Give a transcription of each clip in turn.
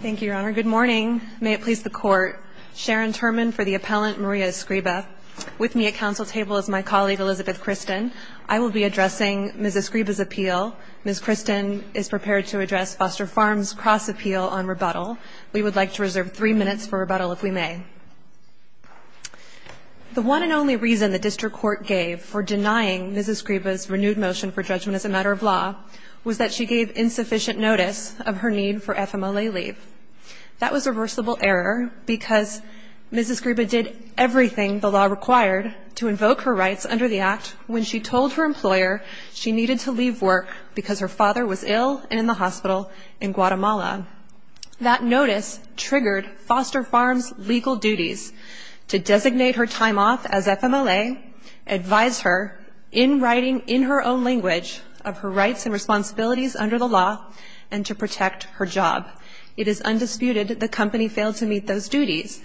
Thank you, Your Honor. Good morning. May it please the Court, Sharon Turman for the appellant, Maria Escriba. With me at council table is my colleague, Elizabeth Christin. I will be addressing Ms. Escriba's appeal. Ms. Christin is prepared to address Foster Farms' cross-appeal on rebuttal. We would like to reserve three minutes for rebuttal, if we may. The one and only reason the district court gave for denying Ms. Escriba's renewed motion for judgment as a matter of law was that she gave insufficient notice of her need for FMLA leave. That was a reversible error because Ms. Escriba did everything the law required to invoke her rights under the Act when she told her employer she needed to leave work because her father was ill and in the hospital in Guatemala. That notice triggered Foster Farms' legal duties to designate her time off as FMLA, advise her in writing in her own language of her rights and responsibilities under the law, and to protect her job. It is undisputed that the company failed to meet those duties.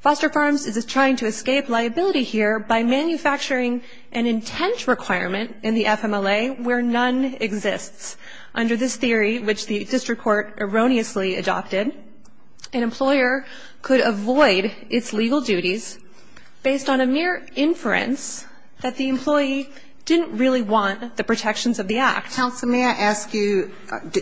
Foster Farms is trying to escape liability here by manufacturing an intent requirement in the FMLA where none exists. Under this theory, which the district court erroneously adopted, an employer could avoid its legal duties based on a mere inference that the employee didn't really want the protections of the Act. Counsel, may I ask you,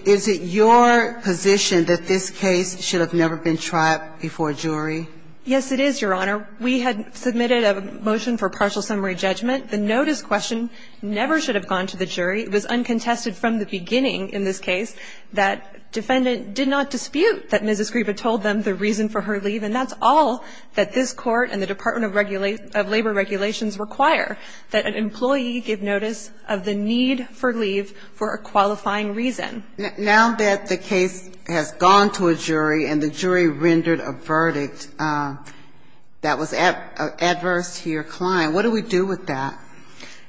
is it your position that this case should have never been tried before a jury? Yes, it is, Your Honor. We had submitted a motion for partial summary judgment. The notice question never should have gone to the jury. It was uncontested from the beginning in this case that defendant did not dispute that Ms. Escriba told them the reason for her leave, and that's all that this Court and the Department of Labor Regulations require, that an employee give notice of the need for leave for a qualifying reason. Now that the case has gone to a jury and the jury rendered a verdict that was adverse to your client, what do we do with that?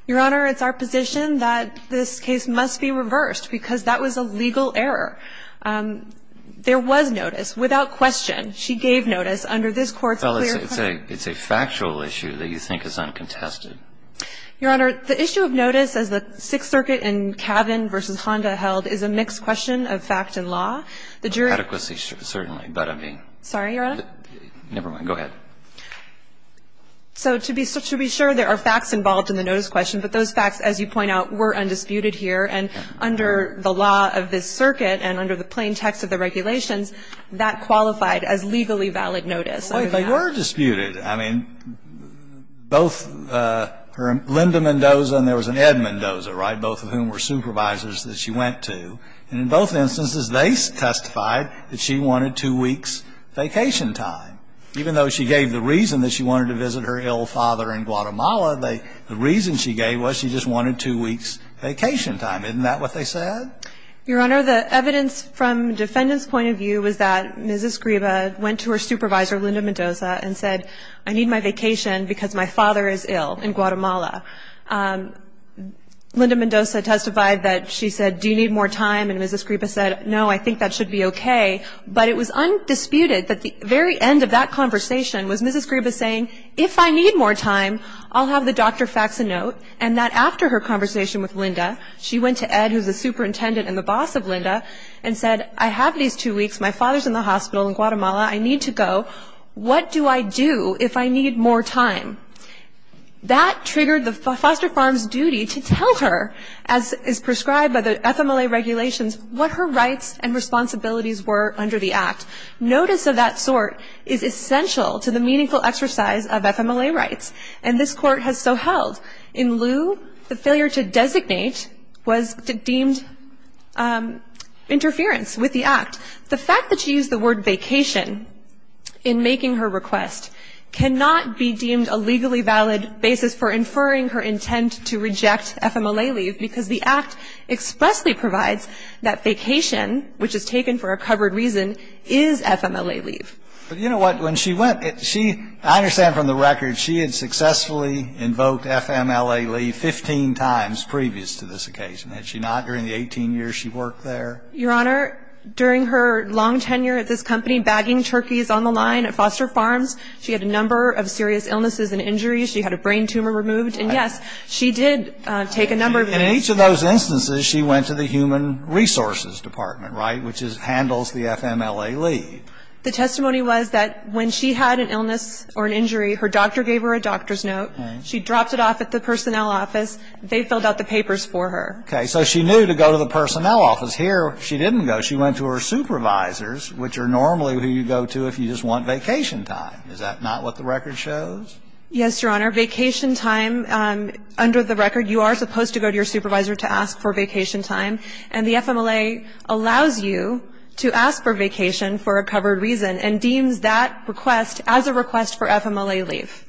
Your Honor, it's our position that this case must be reversed because that was a legal error. There was notice. Without question, she gave notice under this Court's clear claim. Well, it's a factual issue that you think is uncontested. Your Honor, the issue of notice, as the Sixth Circuit in Cavan v. Honda held, is a mixed question of fact and law. Adequacy, certainly, but I mean. Sorry, Your Honor? Never mind. Go ahead. So to be sure, there are facts involved in the notice question, but those facts, as you point out, were undisputed here. And under the law of this circuit and under the plain text of the regulations, that qualified as legally valid notice. Well, they were disputed. I mean, both Linda Mendoza and there was an Ed Mendoza, right, both of whom were supervisors that she went to. And in both instances, they testified that she wanted two weeks' vacation time. Even though she gave the reason that she wanted to visit her ill father in Guatemala, the reason she gave was she just wanted two weeks' vacation time. Isn't that what they said? Your Honor, the evidence from defendant's point of view was that Ms. Escriba went to her supervisor, Linda Mendoza, and said, I need my vacation because my father is ill in Guatemala. Linda Mendoza testified that she said, do you need more time? And Ms. Escriba said, no, I think that should be okay. But it was undisputed that the very end of that conversation was Ms. Escriba saying, if I need more time, I'll have the doctor fax a note. And that after her conversation with Linda, she went to Ed, who is the superintendent and the boss of Linda, and said, I have these two weeks. My father is in the hospital in Guatemala. I need to go. What do I do if I need more time? That triggered the foster farm's duty to tell her, as is prescribed by the FMLA regulations, what her rights and responsibilities were under the Act. Notice of that sort is essential to the meaningful exercise of FMLA rights. And this Court has so held. In lieu, the failure to designate was deemed interference with the Act. The fact that she used the word vacation in making her request cannot be deemed a legally valid basis for inferring her intent to reject FMLA leave because the Act expressly provides that vacation, which is taken for a covered reason, is FMLA leave. But you know what? When she went, she – I understand from the record she had successfully invoked FMLA leave 15 times previous to this occasion. Had she not during the 18 years she worked there? Your Honor, during her long tenure at this company, bagging turkeys on the line at foster farms, she had a number of serious illnesses and injuries. She had a brain tumor removed. And, yes, she did take a number of those. And in each of those instances, she went to the human resources department, right, which handles the FMLA leave. The testimony was that when she had an illness or an injury, her doctor gave her a doctor's note. She dropped it off at the personnel office. They filled out the papers for her. Okay. So she knew to go to the personnel office. Here, she didn't go. She went to her supervisors, which are normally who you go to if you just want vacation time. Is that not what the record shows? Yes, Your Honor. Vacation time, under the record, you are supposed to go to your supervisor to ask for vacation time. And the FMLA allows you to ask for vacation for a covered reason and deems that request as a request for FMLA leave.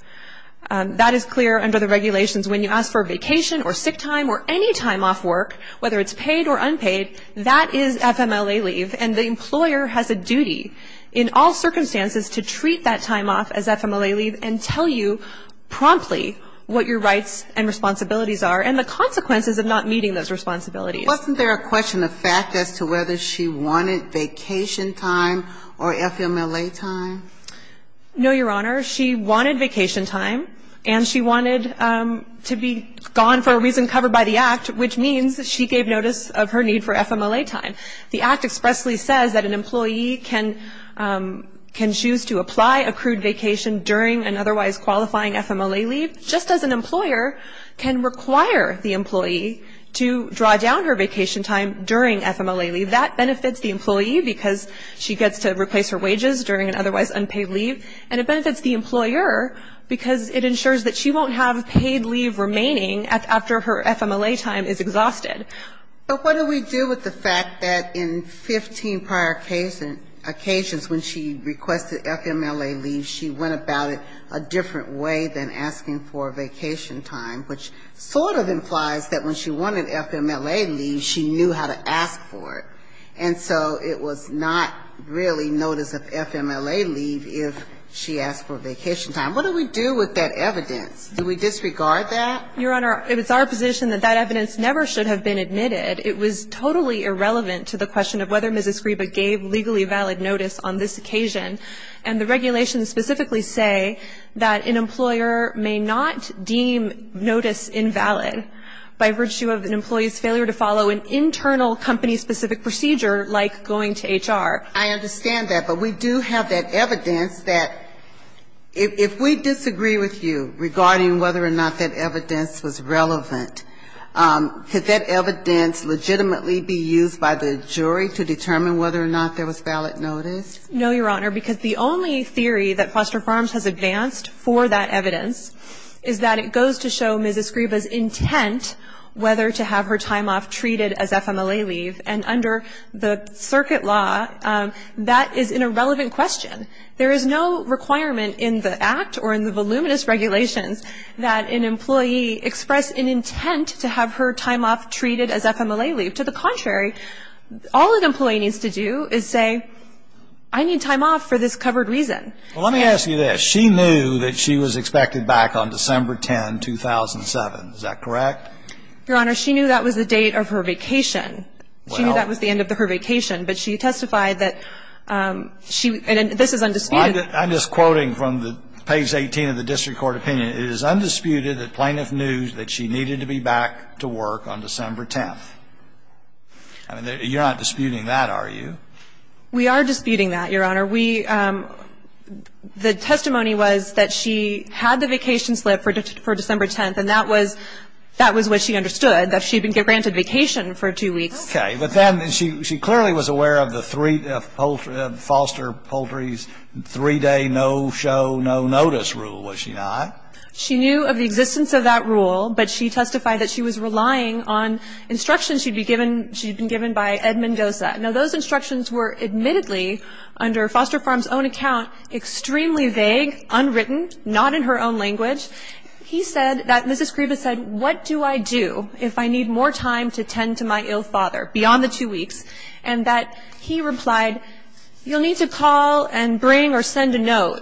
That is clear under the regulations. When you ask for vacation or sick time or any time off work, whether it's paid or unpaid, that is FMLA leave. And the employer has a duty in all circumstances to treat that time off as FMLA leave and tell you promptly what your rights and responsibilities are and the consequences of not meeting those responsibilities. Wasn't there a question of fact as to whether she wanted vacation time or FMLA time? No, Your Honor. She wanted vacation time, and she wanted to be gone for a reason covered by the Act, which means she gave notice of her need for FMLA time. The Act expressly says that an employee can choose to apply accrued vacation during an otherwise qualifying FMLA leave, just as an employer can require the employee to ask for vacation time during FMLA leave. That benefits the employee because she gets to replace her wages during an otherwise unpaid leave, and it benefits the employer because it ensures that she won't have paid leave remaining after her FMLA time is exhausted. But what do we do with the fact that in 15 prior occasions when she requested FMLA leave, she went about it a different way than asking for vacation time, which sort of implies that when she wanted FMLA leave, she knew how to ask for it. And so it was not really notice of FMLA leave if she asked for vacation time. What do we do with that evidence? Do we disregard that? Your Honor, it's our position that that evidence never should have been admitted. It was totally irrelevant to the question of whether Ms. Escriba gave legally valid notice on this occasion. And the regulations specifically say that an employer may not deem notice invalid by virtue of an employee's failure to follow an internal company-specific procedure like going to HR. I understand that, but we do have that evidence that if we disagree with you regarding whether or not that evidence was relevant, could that evidence legitimately be used by the jury to determine whether or not there was valid notice? No, Your Honor, because the only theory that Foster Farms has advanced for that evidence is that it goes to show Ms. Escriba's intent whether to have her time off treated as FMLA leave. And under the circuit law, that is an irrelevant question. There is no requirement in the Act or in the voluminous regulations that an employee express an intent to have her time off treated as FMLA leave. To the contrary, all an employee needs to do is say, I need time off for this covered reason. Well, let me ask you this. She knew that she was expected back on December 10, 2007. Is that correct? Your Honor, she knew that was the date of her vacation. She knew that was the end of her vacation, but she testified that she – and this is undisputed. I'm just quoting from the page 18 of the district court opinion. It is undisputed that plaintiff knew that she needed to be back to work on December 10. I mean, you're not disputing that, are you? We are disputing that, Your Honor. We – the testimony was that she had the vacation slip for December 10, and that was – that was what she understood, that she'd been granted vacation for two weeks. Okay. But then she clearly was aware of the three – Foster Poultry's three-day no-show, no-notice rule, was she not? No. She knew of the existence of that rule, but she testified that she was relying on instructions she'd be given – she'd been given by Ed Mendoza. Now, those instructions were admittedly, under Foster Farms' own account, extremely vague, unwritten, not in her own language. He said that Mrs. Grieva said, what do I do if I need more time to tend to my ill father beyond the two weeks? And that he replied, you'll need to call and bring or send a note.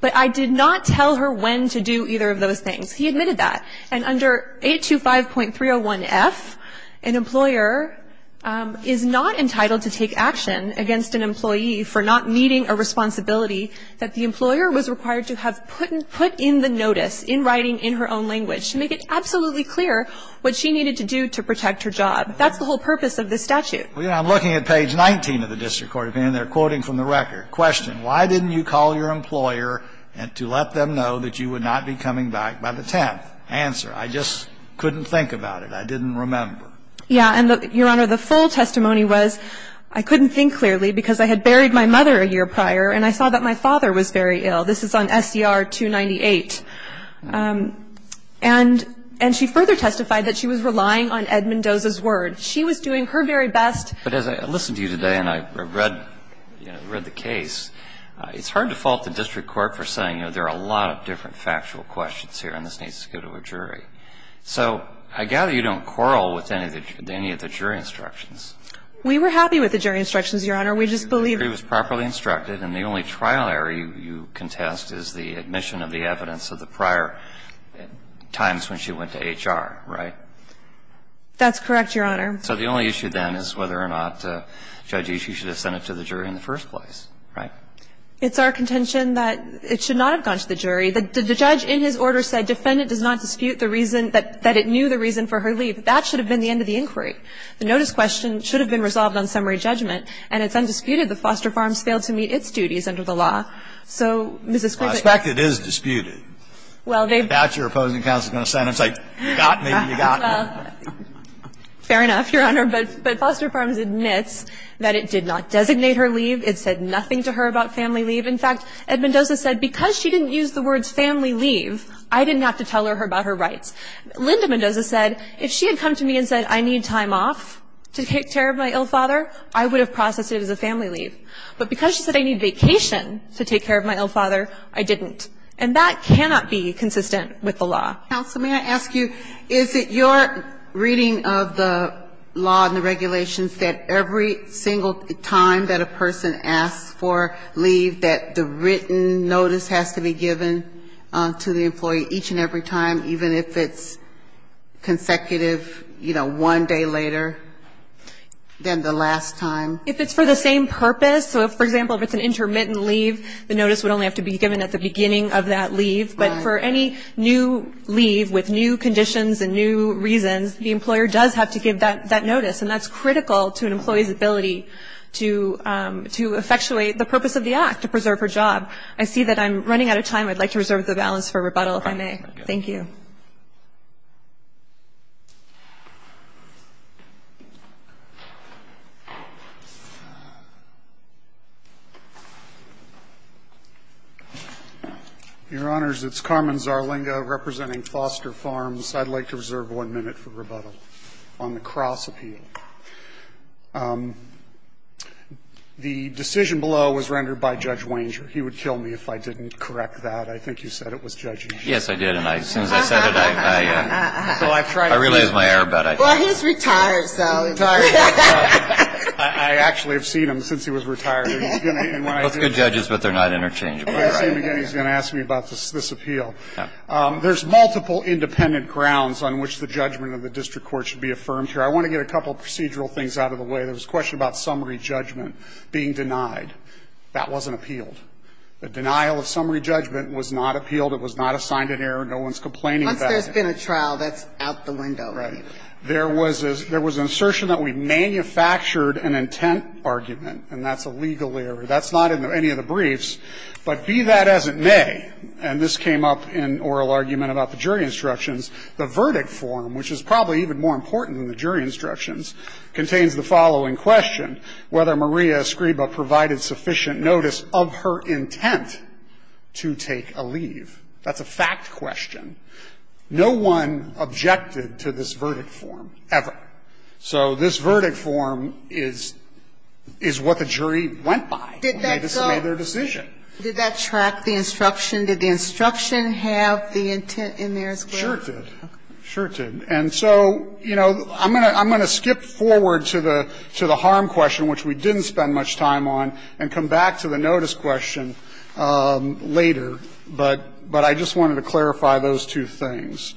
But I did not tell her when to do either of those things. He admitted that. And under 825.301F, an employer is not entitled to take action against an employee for not meeting a responsibility that the employer was required to have put in the notice, in writing, in her own language, to make it absolutely clear what she needed to do to protect her job. That's the whole purpose of this statute. I'm looking at page 19 of the district court opinion. They're quoting from the record. Question. Why didn't you call your employer to let them know that you would not be coming back by the 10th? Answer. I just couldn't think about it. I didn't remember. Yeah. And, Your Honor, the full testimony was, I couldn't think clearly because I had buried my mother a year prior, and I saw that my father was very ill. This is on SCR 298. And she further testified that she was relying on Ed Mendoza's word. She was doing her very best. But as I listened to you today and I read the case, it's hard to fault the district court for saying, you know, there are a lot of different factual questions here, and this needs to go to a jury. So I gather you don't quarrel with any of the jury instructions. We were happy with the jury instructions, Your Honor. We just believed it was properly instructed. And the only trial error you contest is the admission of the evidence of the prior times when she went to HR, right? That's correct, Your Honor. So the only issue then is whether or not Judge Ishii should have sent it to the jury in the first place, right? It's our contention that it should not have gone to the jury. The judge, in his order, said defendant does not dispute the reason that it knew the reason for her leave. That should have been the end of the inquiry. The notice question should have been resolved on summary judgment. And it's undisputed that Foster Farms failed to meet its duties under the law. So, Mrs. Griffin. Well, I suspect it is disputed. Well, they've been. I doubt your opposing counsel is going to stand up and say, you got me, you got me. Fair enough, Your Honor. But Foster Farms admits that it did not designate her leave. It said nothing to her about family leave. In fact, Ed Mendoza said because she didn't use the words family leave, I didn't have to tell her about her rights. Linda Mendoza said if she had come to me and said I need time off to take care of my ill father, I would have processed it as a family leave. But because she said I need vacation to take care of my ill father, I didn't. And that cannot be consistent with the law. Counsel, may I ask you, is it your reading of the law and the regulations that every single time that a person asks for leave, that the written notice has to be given to the employee each and every time, even if it's consecutive, you know, one day later than the last time? If it's for the same purpose. So, for example, if it's an intermittent leave, the notice would only have to be given at the beginning of that leave. But for any new leave with new conditions and new reasons, the employer does have to give that notice. And that's critical to an employee's ability to effectuate the purpose of the act, to preserve her job. I see that I'm running out of time. I'd like to reserve the balance for rebuttal, if I may. Thank you. Your Honors, it's Carmen Zarlinga representing Foster Farms. I'd like to reserve one minute for rebuttal on the Cross appeal. The decision below was rendered by Judge Wanger. He would kill me if I didn't correct that. I think you said it was Judge Wanger. Yes, I did. And as soon as I said it, I realized my error. Well, he's retired, so. I actually have seen him since he was retired. Those are good judges, but they're not interchangeable. He's going to ask me about this appeal. There's multiple independent grounds on which the judgment of the district court should be affirmed here. I want to get a couple of procedural things out of the way. There was a question about summary judgment being denied. That wasn't appealed. The denial of summary judgment was not appealed. It was not assigned an error. No one's complaining about it. Once there's been a trial, that's out the window. Right. There was an assertion that we manufactured an intent argument, and that's a legal error. That's not in any of the briefs. But be that as it may, and this came up in oral argument about the jury instructions, the verdict form, which is probably even more important than the jury instructions, contains the following question, whether Maria Escriba provided sufficient notice of her intent to take a leave. That's a fact question. No one objected to this verdict form ever. So this verdict form is what the jury went by when they made their decision. Did that track the instruction? Did the instruction have the intent in there as well? Sure it did. Sure it did. And so, you know, I'm going to skip forward to the harm question, which we didn't spend much time on, and come back to the notice question later. But I just wanted to clarify those two things.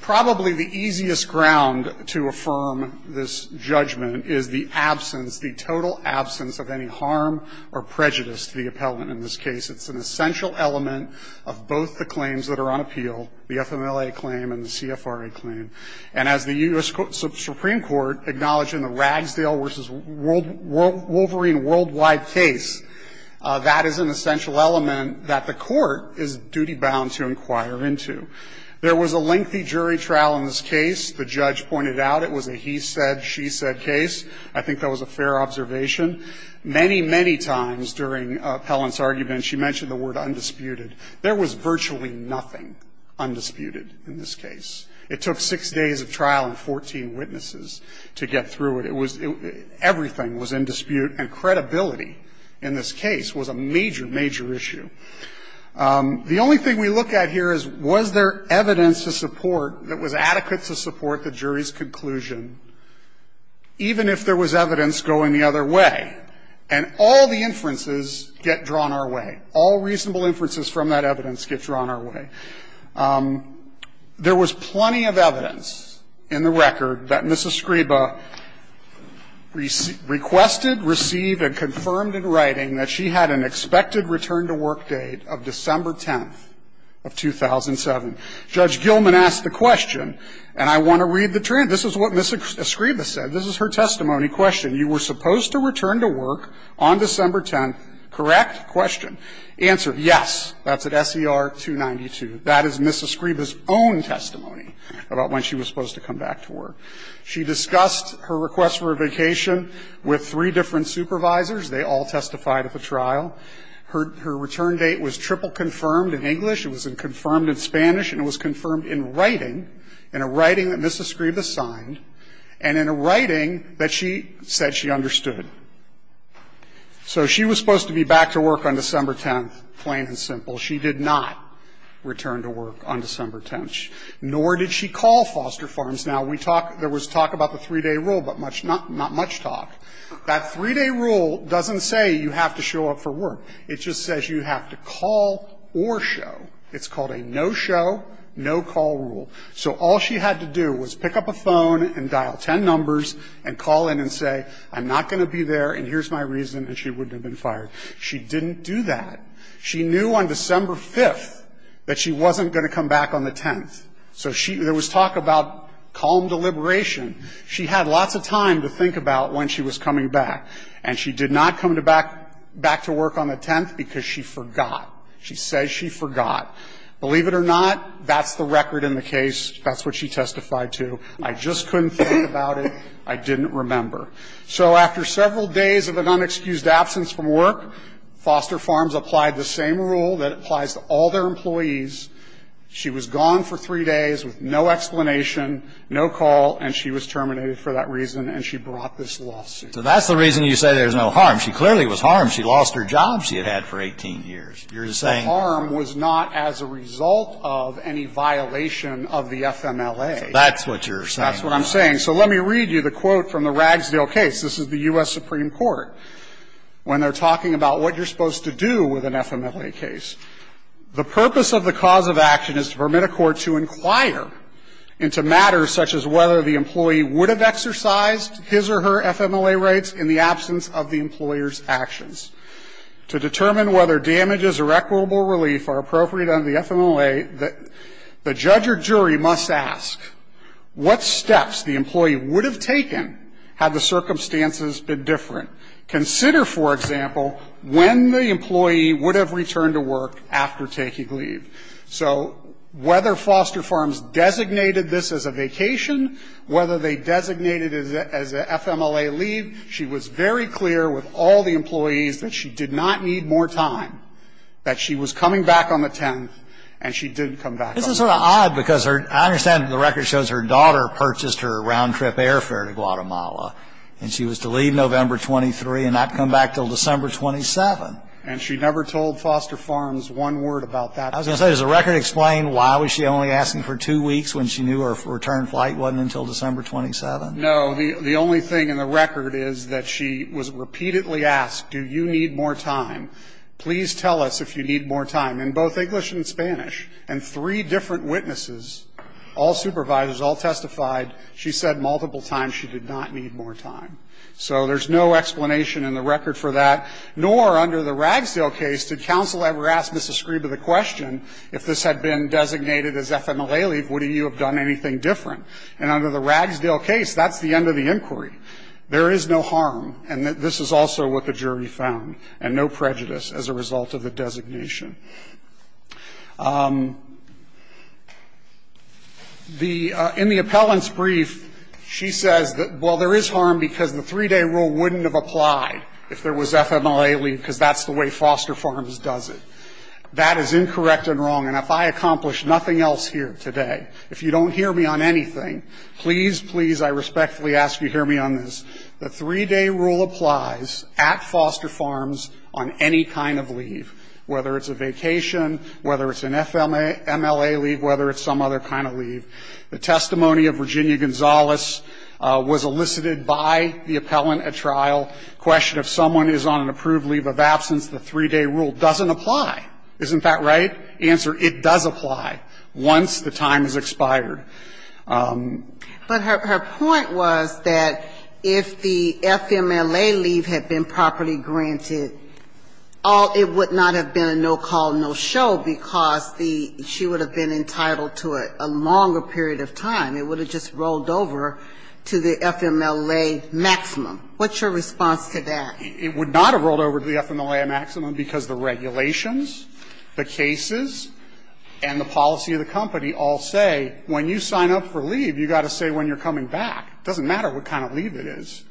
Probably the easiest ground to affirm this judgment is the absence, the total absence of any harm or prejudice to the appellant in this case. It's an essential element of both the claims that are on appeal, the FMLA claim and the CFRA claim. And as the U.S. Supreme Court acknowledged in the Ragsdale v. Wolverine worldwide case, that is an essential element that the court is duty-bound to inquire into. There was a lengthy jury trial in this case. The judge pointed out it was a he said, she said case. I think that was a fair observation. Many, many times during Appellant's argument, she mentioned the word undisputed. There was virtually nothing undisputed in this case. It took six days of trial and 14 witnesses to get through it. It was — everything was in dispute, and credibility in this case was a major, major issue. The only thing we look at here is, was there evidence to support that was adequate to support the jury's conclusion, even if there was evidence going the other way? And all the inferences get drawn our way. All reasonable inferences from that evidence get drawn our way. There was plenty of evidence in the record that Ms. Escriba requested, received and confirmed in writing that she had an expected return-to-work date of December 10th of 2007. Judge Gilman asked the question, and I want to read the transcript. This is what Ms. Escriba said. This is her testimony question. You were supposed to return to work on December 10th, correct? Question. Answer, yes. That's at SER 292. That is Ms. Escriba's own testimony about when she was supposed to come back to work. She discussed her request for a vacation with three different supervisors. They all testified at the trial. Her return date was triple confirmed in English. It was confirmed in Spanish, and it was confirmed in writing, in a writing that Ms. Escriba signed, and in a writing that she said she understood. So she was supposed to be back to work on December 10th, plain and simple. She did not return to work on December 10th, nor did she call Foster Farms. Now, we talk – there was talk about the 3-day rule, but not much talk. That 3-day rule doesn't say you have to show up for work. It just says you have to call or show. It's called a no-show, no-call rule. So all she had to do was pick up a phone and dial ten numbers and call in and say, I'm not going to be there, and here's my reason, and she wouldn't have been fired. She didn't do that. She knew on December 5th that she wasn't going to come back on the 10th. So she – there was talk about calm deliberation. She had lots of time to think about when she was coming back, and she did not come to back – back to work on the 10th because she forgot. She says she forgot. Believe it or not, that's the record in the case. That's what she testified to. I just couldn't think about it. I didn't remember. So after several days of an unexcused absence from work, Foster Farms applied the same rule that applies to all their employees. She was gone for three days with no explanation, no call, and she was terminated for that reason, and she brought this lawsuit. So that's the reason you say there's no harm. She clearly was harmed. She lost her job she had had for 18 years. You're saying – The harm was not as a result of any violation of the FMLA. So that's what you're saying. That's what I'm saying. So let me read you the quote from the Ragsdale case. This is the U.S. Supreme Court when they're talking about what you're supposed to do with an FMLA case. The purpose of the cause of action is to permit a court to inquire into matters such as whether the employee would have exercised his or her FMLA rights in the absence of the employer's actions. To determine whether damages or equitable relief are appropriate under the FMLA, the judge or jury must ask what steps the employee would have taken had the circumstances been different. Consider, for example, when the employee would have returned to work after taking leave. So whether Foster Farms designated this as a vacation, whether they designated it as an FMLA leave, she was very clear with all the employees that she did not need more time, that she was coming back on the 10th, and she did come back on the 10th. This is sort of odd because I understand the record shows her daughter purchased her round-trip airfare to Guatemala, and she was to leave November 23 and not come back until December 27. And she never told Foster Farms one word about that. I was going to say, does the record explain why was she only asking for two weeks when she knew her return flight wasn't until December 27? No. The only thing in the record is that she was repeatedly asked, do you need more time? Please tell us if you need more time. In both English and Spanish, and three different witnesses, all supervisors, all testified, she said multiple times she did not need more time. So there's no explanation in the record for that. Nor under the Ragsdale case, did counsel ever ask Mrs. Scriba the question, if this had been designated as FMLA leave, would you have done anything different? And under the Ragsdale case, that's the end of the inquiry. There is no harm, and this is also what the jury found, and no prejudice as a result of the designation. The – in the appellant's brief, she says that, well, there is harm because the three-day rule wouldn't have applied if there was FMLA leave because that's the way Foster Farms does it. That is incorrect and wrong, and if I accomplish nothing else here today, if you don't hear me on anything, please, please, I respectfully ask you hear me on this. The three-day rule applies at Foster Farms on any kind of leave, whether it's a vacation, whether it's an FMLA leave, whether it's some other kind of leave. The testimony of Virginia Gonzalez was elicited by the appellant at trial. The question, if someone is on an approved leave of absence, the three-day rule doesn't apply. Isn't that right? The answer, it does apply once the time has expired. But her point was that if the FMLA leave had been properly granted, all – it would not have been a no-call, no-show because the – she would have been entitled to a longer period of time. It would have just rolled over to the FMLA maximum. What's your response to that? It would not have rolled over to the FMLA maximum because the regulations, the cases, and the policy of the company all say when you sign up for leave, you've got to say when you're coming back. It doesn't matter what kind of leave it is.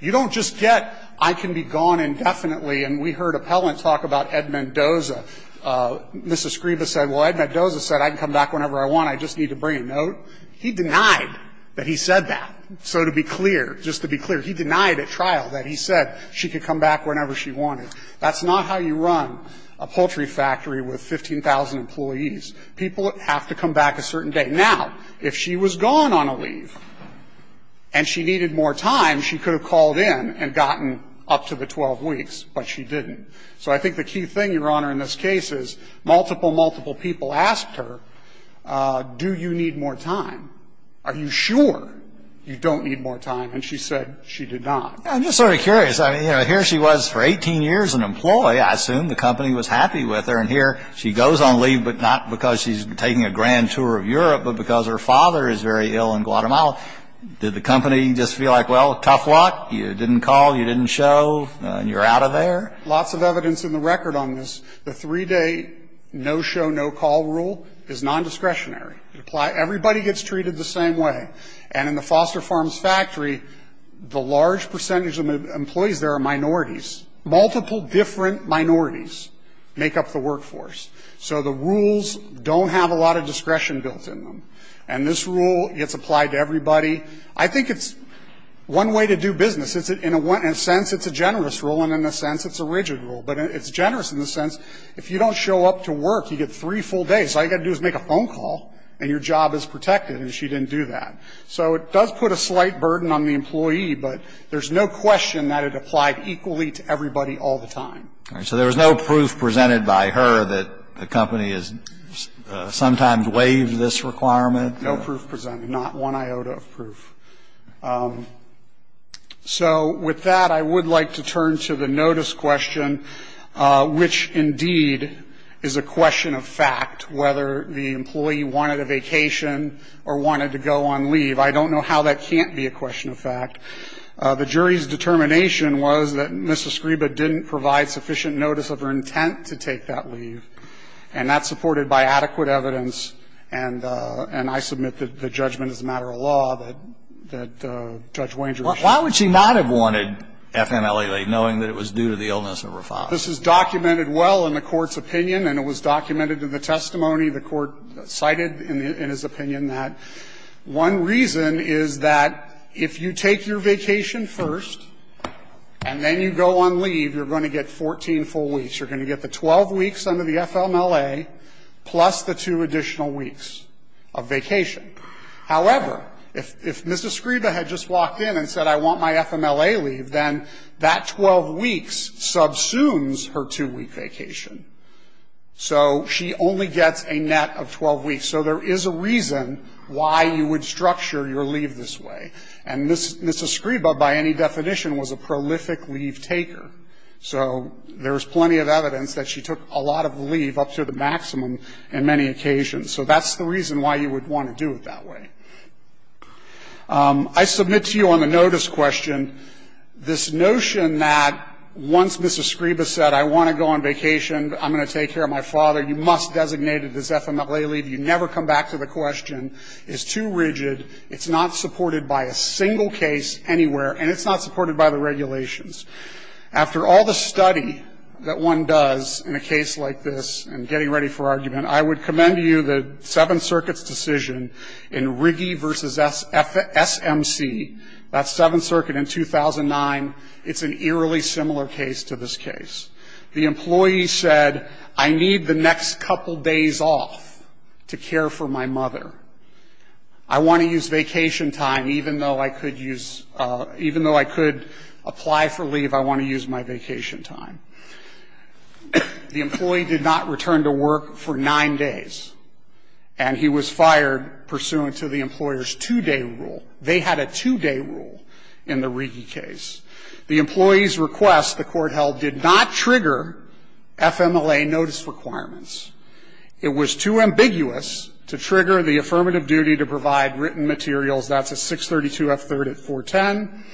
You don't just get, I can be gone indefinitely. And we heard appellants talk about Ed Mendoza. Mrs. Scriba said, well, Ed Mendoza said I can come back whenever I want. I just need to bring a note. He denied that he said that. So to be clear, just to be clear, he denied at trial that he said she could come back whenever she wanted. That's not how you run a poultry factory with 15,000 employees. People have to come back a certain day. Now, if she was gone on a leave and she needed more time, she could have called in and gotten up to the 12 weeks, but she didn't. So I think the key thing, Your Honor, in this case is multiple, multiple people asked her, do you need more time? Are you sure you don't need more time? And she said she did not. I'm just sort of curious. I mean, you know, here she was for 18 years an employee. I assume the company was happy with her. And here she goes on leave, but not because she's taking a grand tour of Europe, but because her father is very ill in Guatemala. Did the company just feel like, well, tough luck, you didn't call, you didn't show, and you're out of there? Lots of evidence in the record on this. The three-day no-show, no-call rule is nondiscretionary. Everybody gets treated the same way. And in the Foster Farms factory, the large percentage of employees there are minorities. Multiple different minorities make up the workforce. So the rules don't have a lot of discretion built in them. And this rule gets applied to everybody. I think it's one way to do business. In a sense, it's a generous rule, and in a sense, it's a rigid rule. But it's generous in the sense, if you don't show up to work, you get three full days. So all you've got to do is make a phone call, and your job is protected. And she didn't do that. So it does put a slight burden on the employee, but there's no question that it applied equally to everybody all the time. So there was no proof presented by her that the company has sometimes waived this requirement? No proof presented. Not one iota of proof. So with that, I would like to turn to the notice question, which indeed is a question of fact, whether the employee wanted a vacation or wanted to go on leave. I don't know how that can't be a question of fact. The jury's determination was that Ms. Escriba didn't provide sufficient notice of her intent to take that leave, and that's supported by adequate evidence. And I submit that the judgment is a matter of law that Judge Wanger issued. Why would she not have wanted FMLE leave, knowing that it was due to the illness of her father? This is documented well in the Court's opinion, and it was documented in the testimony the Court cited in his opinion that one reason is that if you take your vacation first and then you go on leave, you're going to get 14 full weeks. You're going to get the 12 weeks under the FMLE plus the two additional weeks of vacation. However, if Ms. Escriba had just walked in and said, I want my FMLE leave, then that 12 weeks subsumes her two-week vacation. So she only gets a net of 12 weeks. So there is a reason why you would structure your leave this way. And Ms. Escriba, by any definition, was a prolific leave taker. So there's plenty of evidence that she took a lot of leave up to the maximum in many occasions. So that's the reason why you would want to do it that way. I submit to you on the notice question this notion that once Ms. Escriba said, I want to go on vacation, I'm going to take care of my father, you must designate it as FMLE leave. You never come back to the question. It's too rigid. It's not supported by a single case anywhere, and it's not supported by the regulations. After all the study that one does in a case like this and getting ready for argument, I would commend to you the Seventh Circuit's decision in Riggi v. SMC, that's Seventh Circuit in 2009. It's an eerily similar case to this case. The employee said, I need the next couple days off to care for my mother. I want to use vacation time. Even though I could apply for leave, I want to use my vacation time. The employee did not return to work for nine days, and he was fired pursuant to the employer's two-day rule. They had a two-day rule in the Riggi case. The employee's request, the Court held, did not trigger FMLE notice requirements. It was too ambiguous to trigger the affirmative duty to provide written materials. That's at 632F3rd at 410.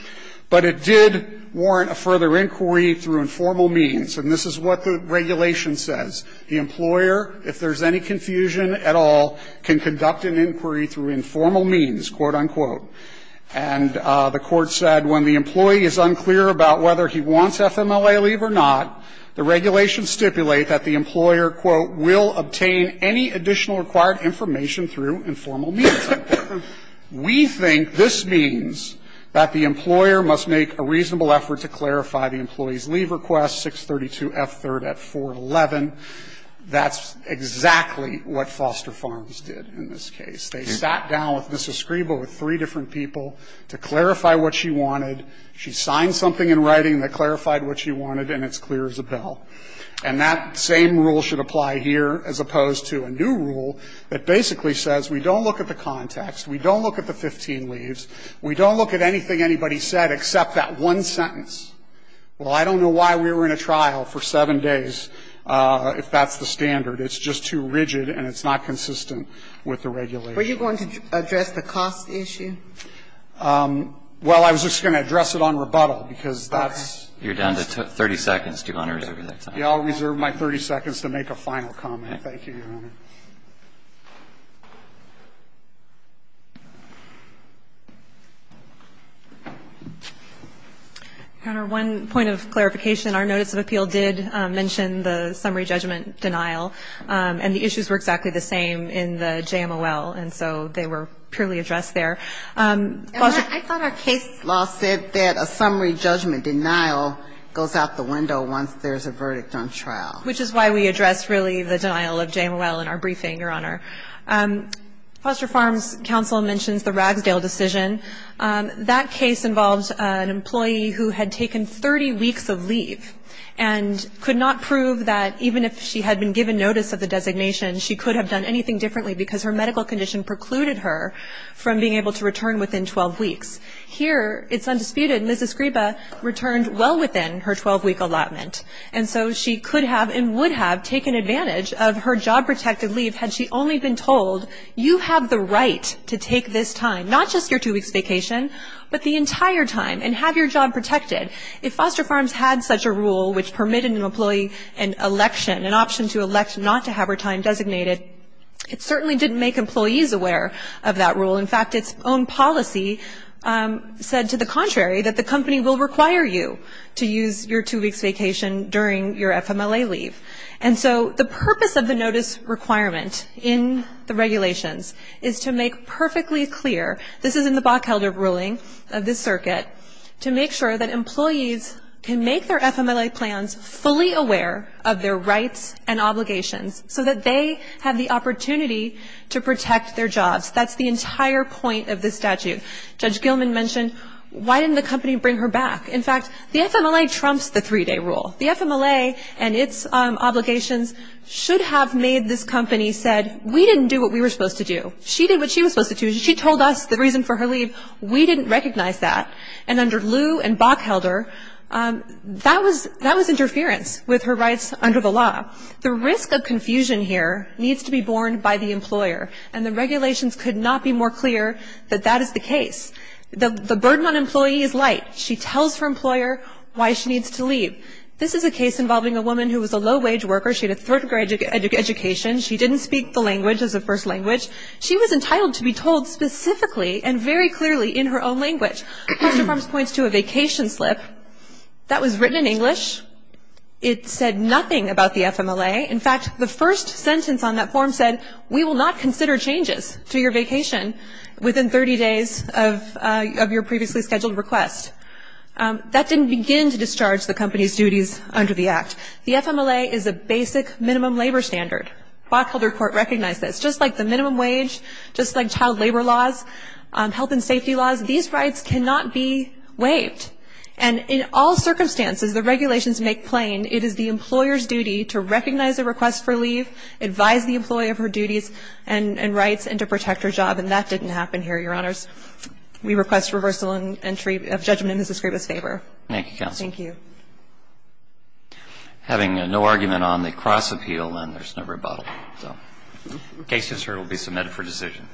But it did warrant a further inquiry through informal means. And this is what the regulation says. The employer, if there's any confusion at all, can conduct an inquiry through informal means, quote, unquote. And the Court said when the employee is unclear about whether he wants FMLE leave or not, the regulations stipulate that the employer, quote, will obtain any additional required information through informal means. We think this means that the employer must make a reasonable effort to clarify the employee's leave request, 632F3rd at 411. That's exactly what Foster Farms did in this case. They sat down with Mrs. Scribo with three different people to clarify what she wanted. She signed something in writing that clarified what she wanted, and it's clear as a bell. And that same rule should apply here as opposed to a new rule that basically says we don't look at the context, we don't look at the 15 leaves, we don't look at anything anybody said except that one sentence. Well, I don't know why we were in a trial for 7 days if that's the standard. It's just too rigid, and it's not consistent with the regulation. Were you going to address the cost issue? Well, I was just going to address it on rebuttal, because that's. Okay. You're down to 30 seconds. Do you want to reserve that time? Yeah, I'll reserve my 30 seconds to make a final comment. Thank you, Your Honor. Your Honor, one point of clarification. Our notice of appeal did mention the summary judgment denial, and the issues were exactly the same in the JMOL, and so they were purely addressed there. Foster. I thought our case law said that a summary judgment denial goes out the window once there's a verdict on trial. Which is why we addressed really the denial of JMOL in our briefing, Your Honor. Foster Farms Council mentions the Ragsdale decision. That case involved an employee who had taken 30 weeks of leave and could not prove that even if she had been given notice of the designation, she could have done anything differently because her medical condition precluded her from being able to return within 12 weeks. Here, it's undisputed. Mrs. Griba returned well within her 12-week allotment, and so she could have and would have taken advantage of her job-protected leave had she only been told, you have the right to take this time, not just your two-weeks vacation, but the entire time, and have your job protected. If Foster Farms had such a rule which permitted an employee an election, an option to elect not to have her time designated, it certainly didn't make employees aware of that rule. In fact, its own policy said to the contrary, that the company will require you to use your two-weeks vacation during your FMLA leave. And so the purpose of the notice requirement in the regulations is to make perfectly clear, this is in the Bockhelder ruling of this circuit, to make sure that employees can make their FMLA plans fully aware of their rights and obligations so that they have the opportunity to protect their jobs. That's the entire point of this statute. Judge Gilman mentioned, why didn't the company bring her back? In fact, the FMLA trumps the three-day rule. The FMLA and its obligations should have made this company said, we didn't do what we were supposed to do. She did what she was supposed to do. She told us the reason for her leave. We didn't recognize that. And under Lew and Bockhelder, that was interference with her rights under the law. The risk of confusion here needs to be borne by the employer, and the regulations could not be more clear that that is the case. The burden on employee is light. She tells her employer why she needs to leave. This is a case involving a woman who was a low-wage worker. She had a third-grade education. She didn't speak the language as a first language. She was entitled to be told specifically and very clearly in her own language. Mr. Farms points to a vacation slip that was written in English. It said nothing about the FMLA. In fact, the first sentence on that form said, we will not consider changes to your vacation within 30 days of your previously scheduled request. That didn't begin to discharge the company's duties under the Act. The FMLA is a basic minimum labor standard. Bockhelder Court recognized that. It's just like the minimum wage, just like child labor laws, health and safety laws. These rights cannot be waived. And in all circumstances, the regulations make plain it is the employer's duty to recognize a request for leave, advise the employer of her duties and rights, and to protect her job. And that didn't happen here, Your Honors. We request reversal in entry of judgment in Ms. Skraba's favor. Thank you, counsel. Thank you. Having no argument on the cross-appeal, then there's no rebuttal. So case is heard. It will be submitted for decision.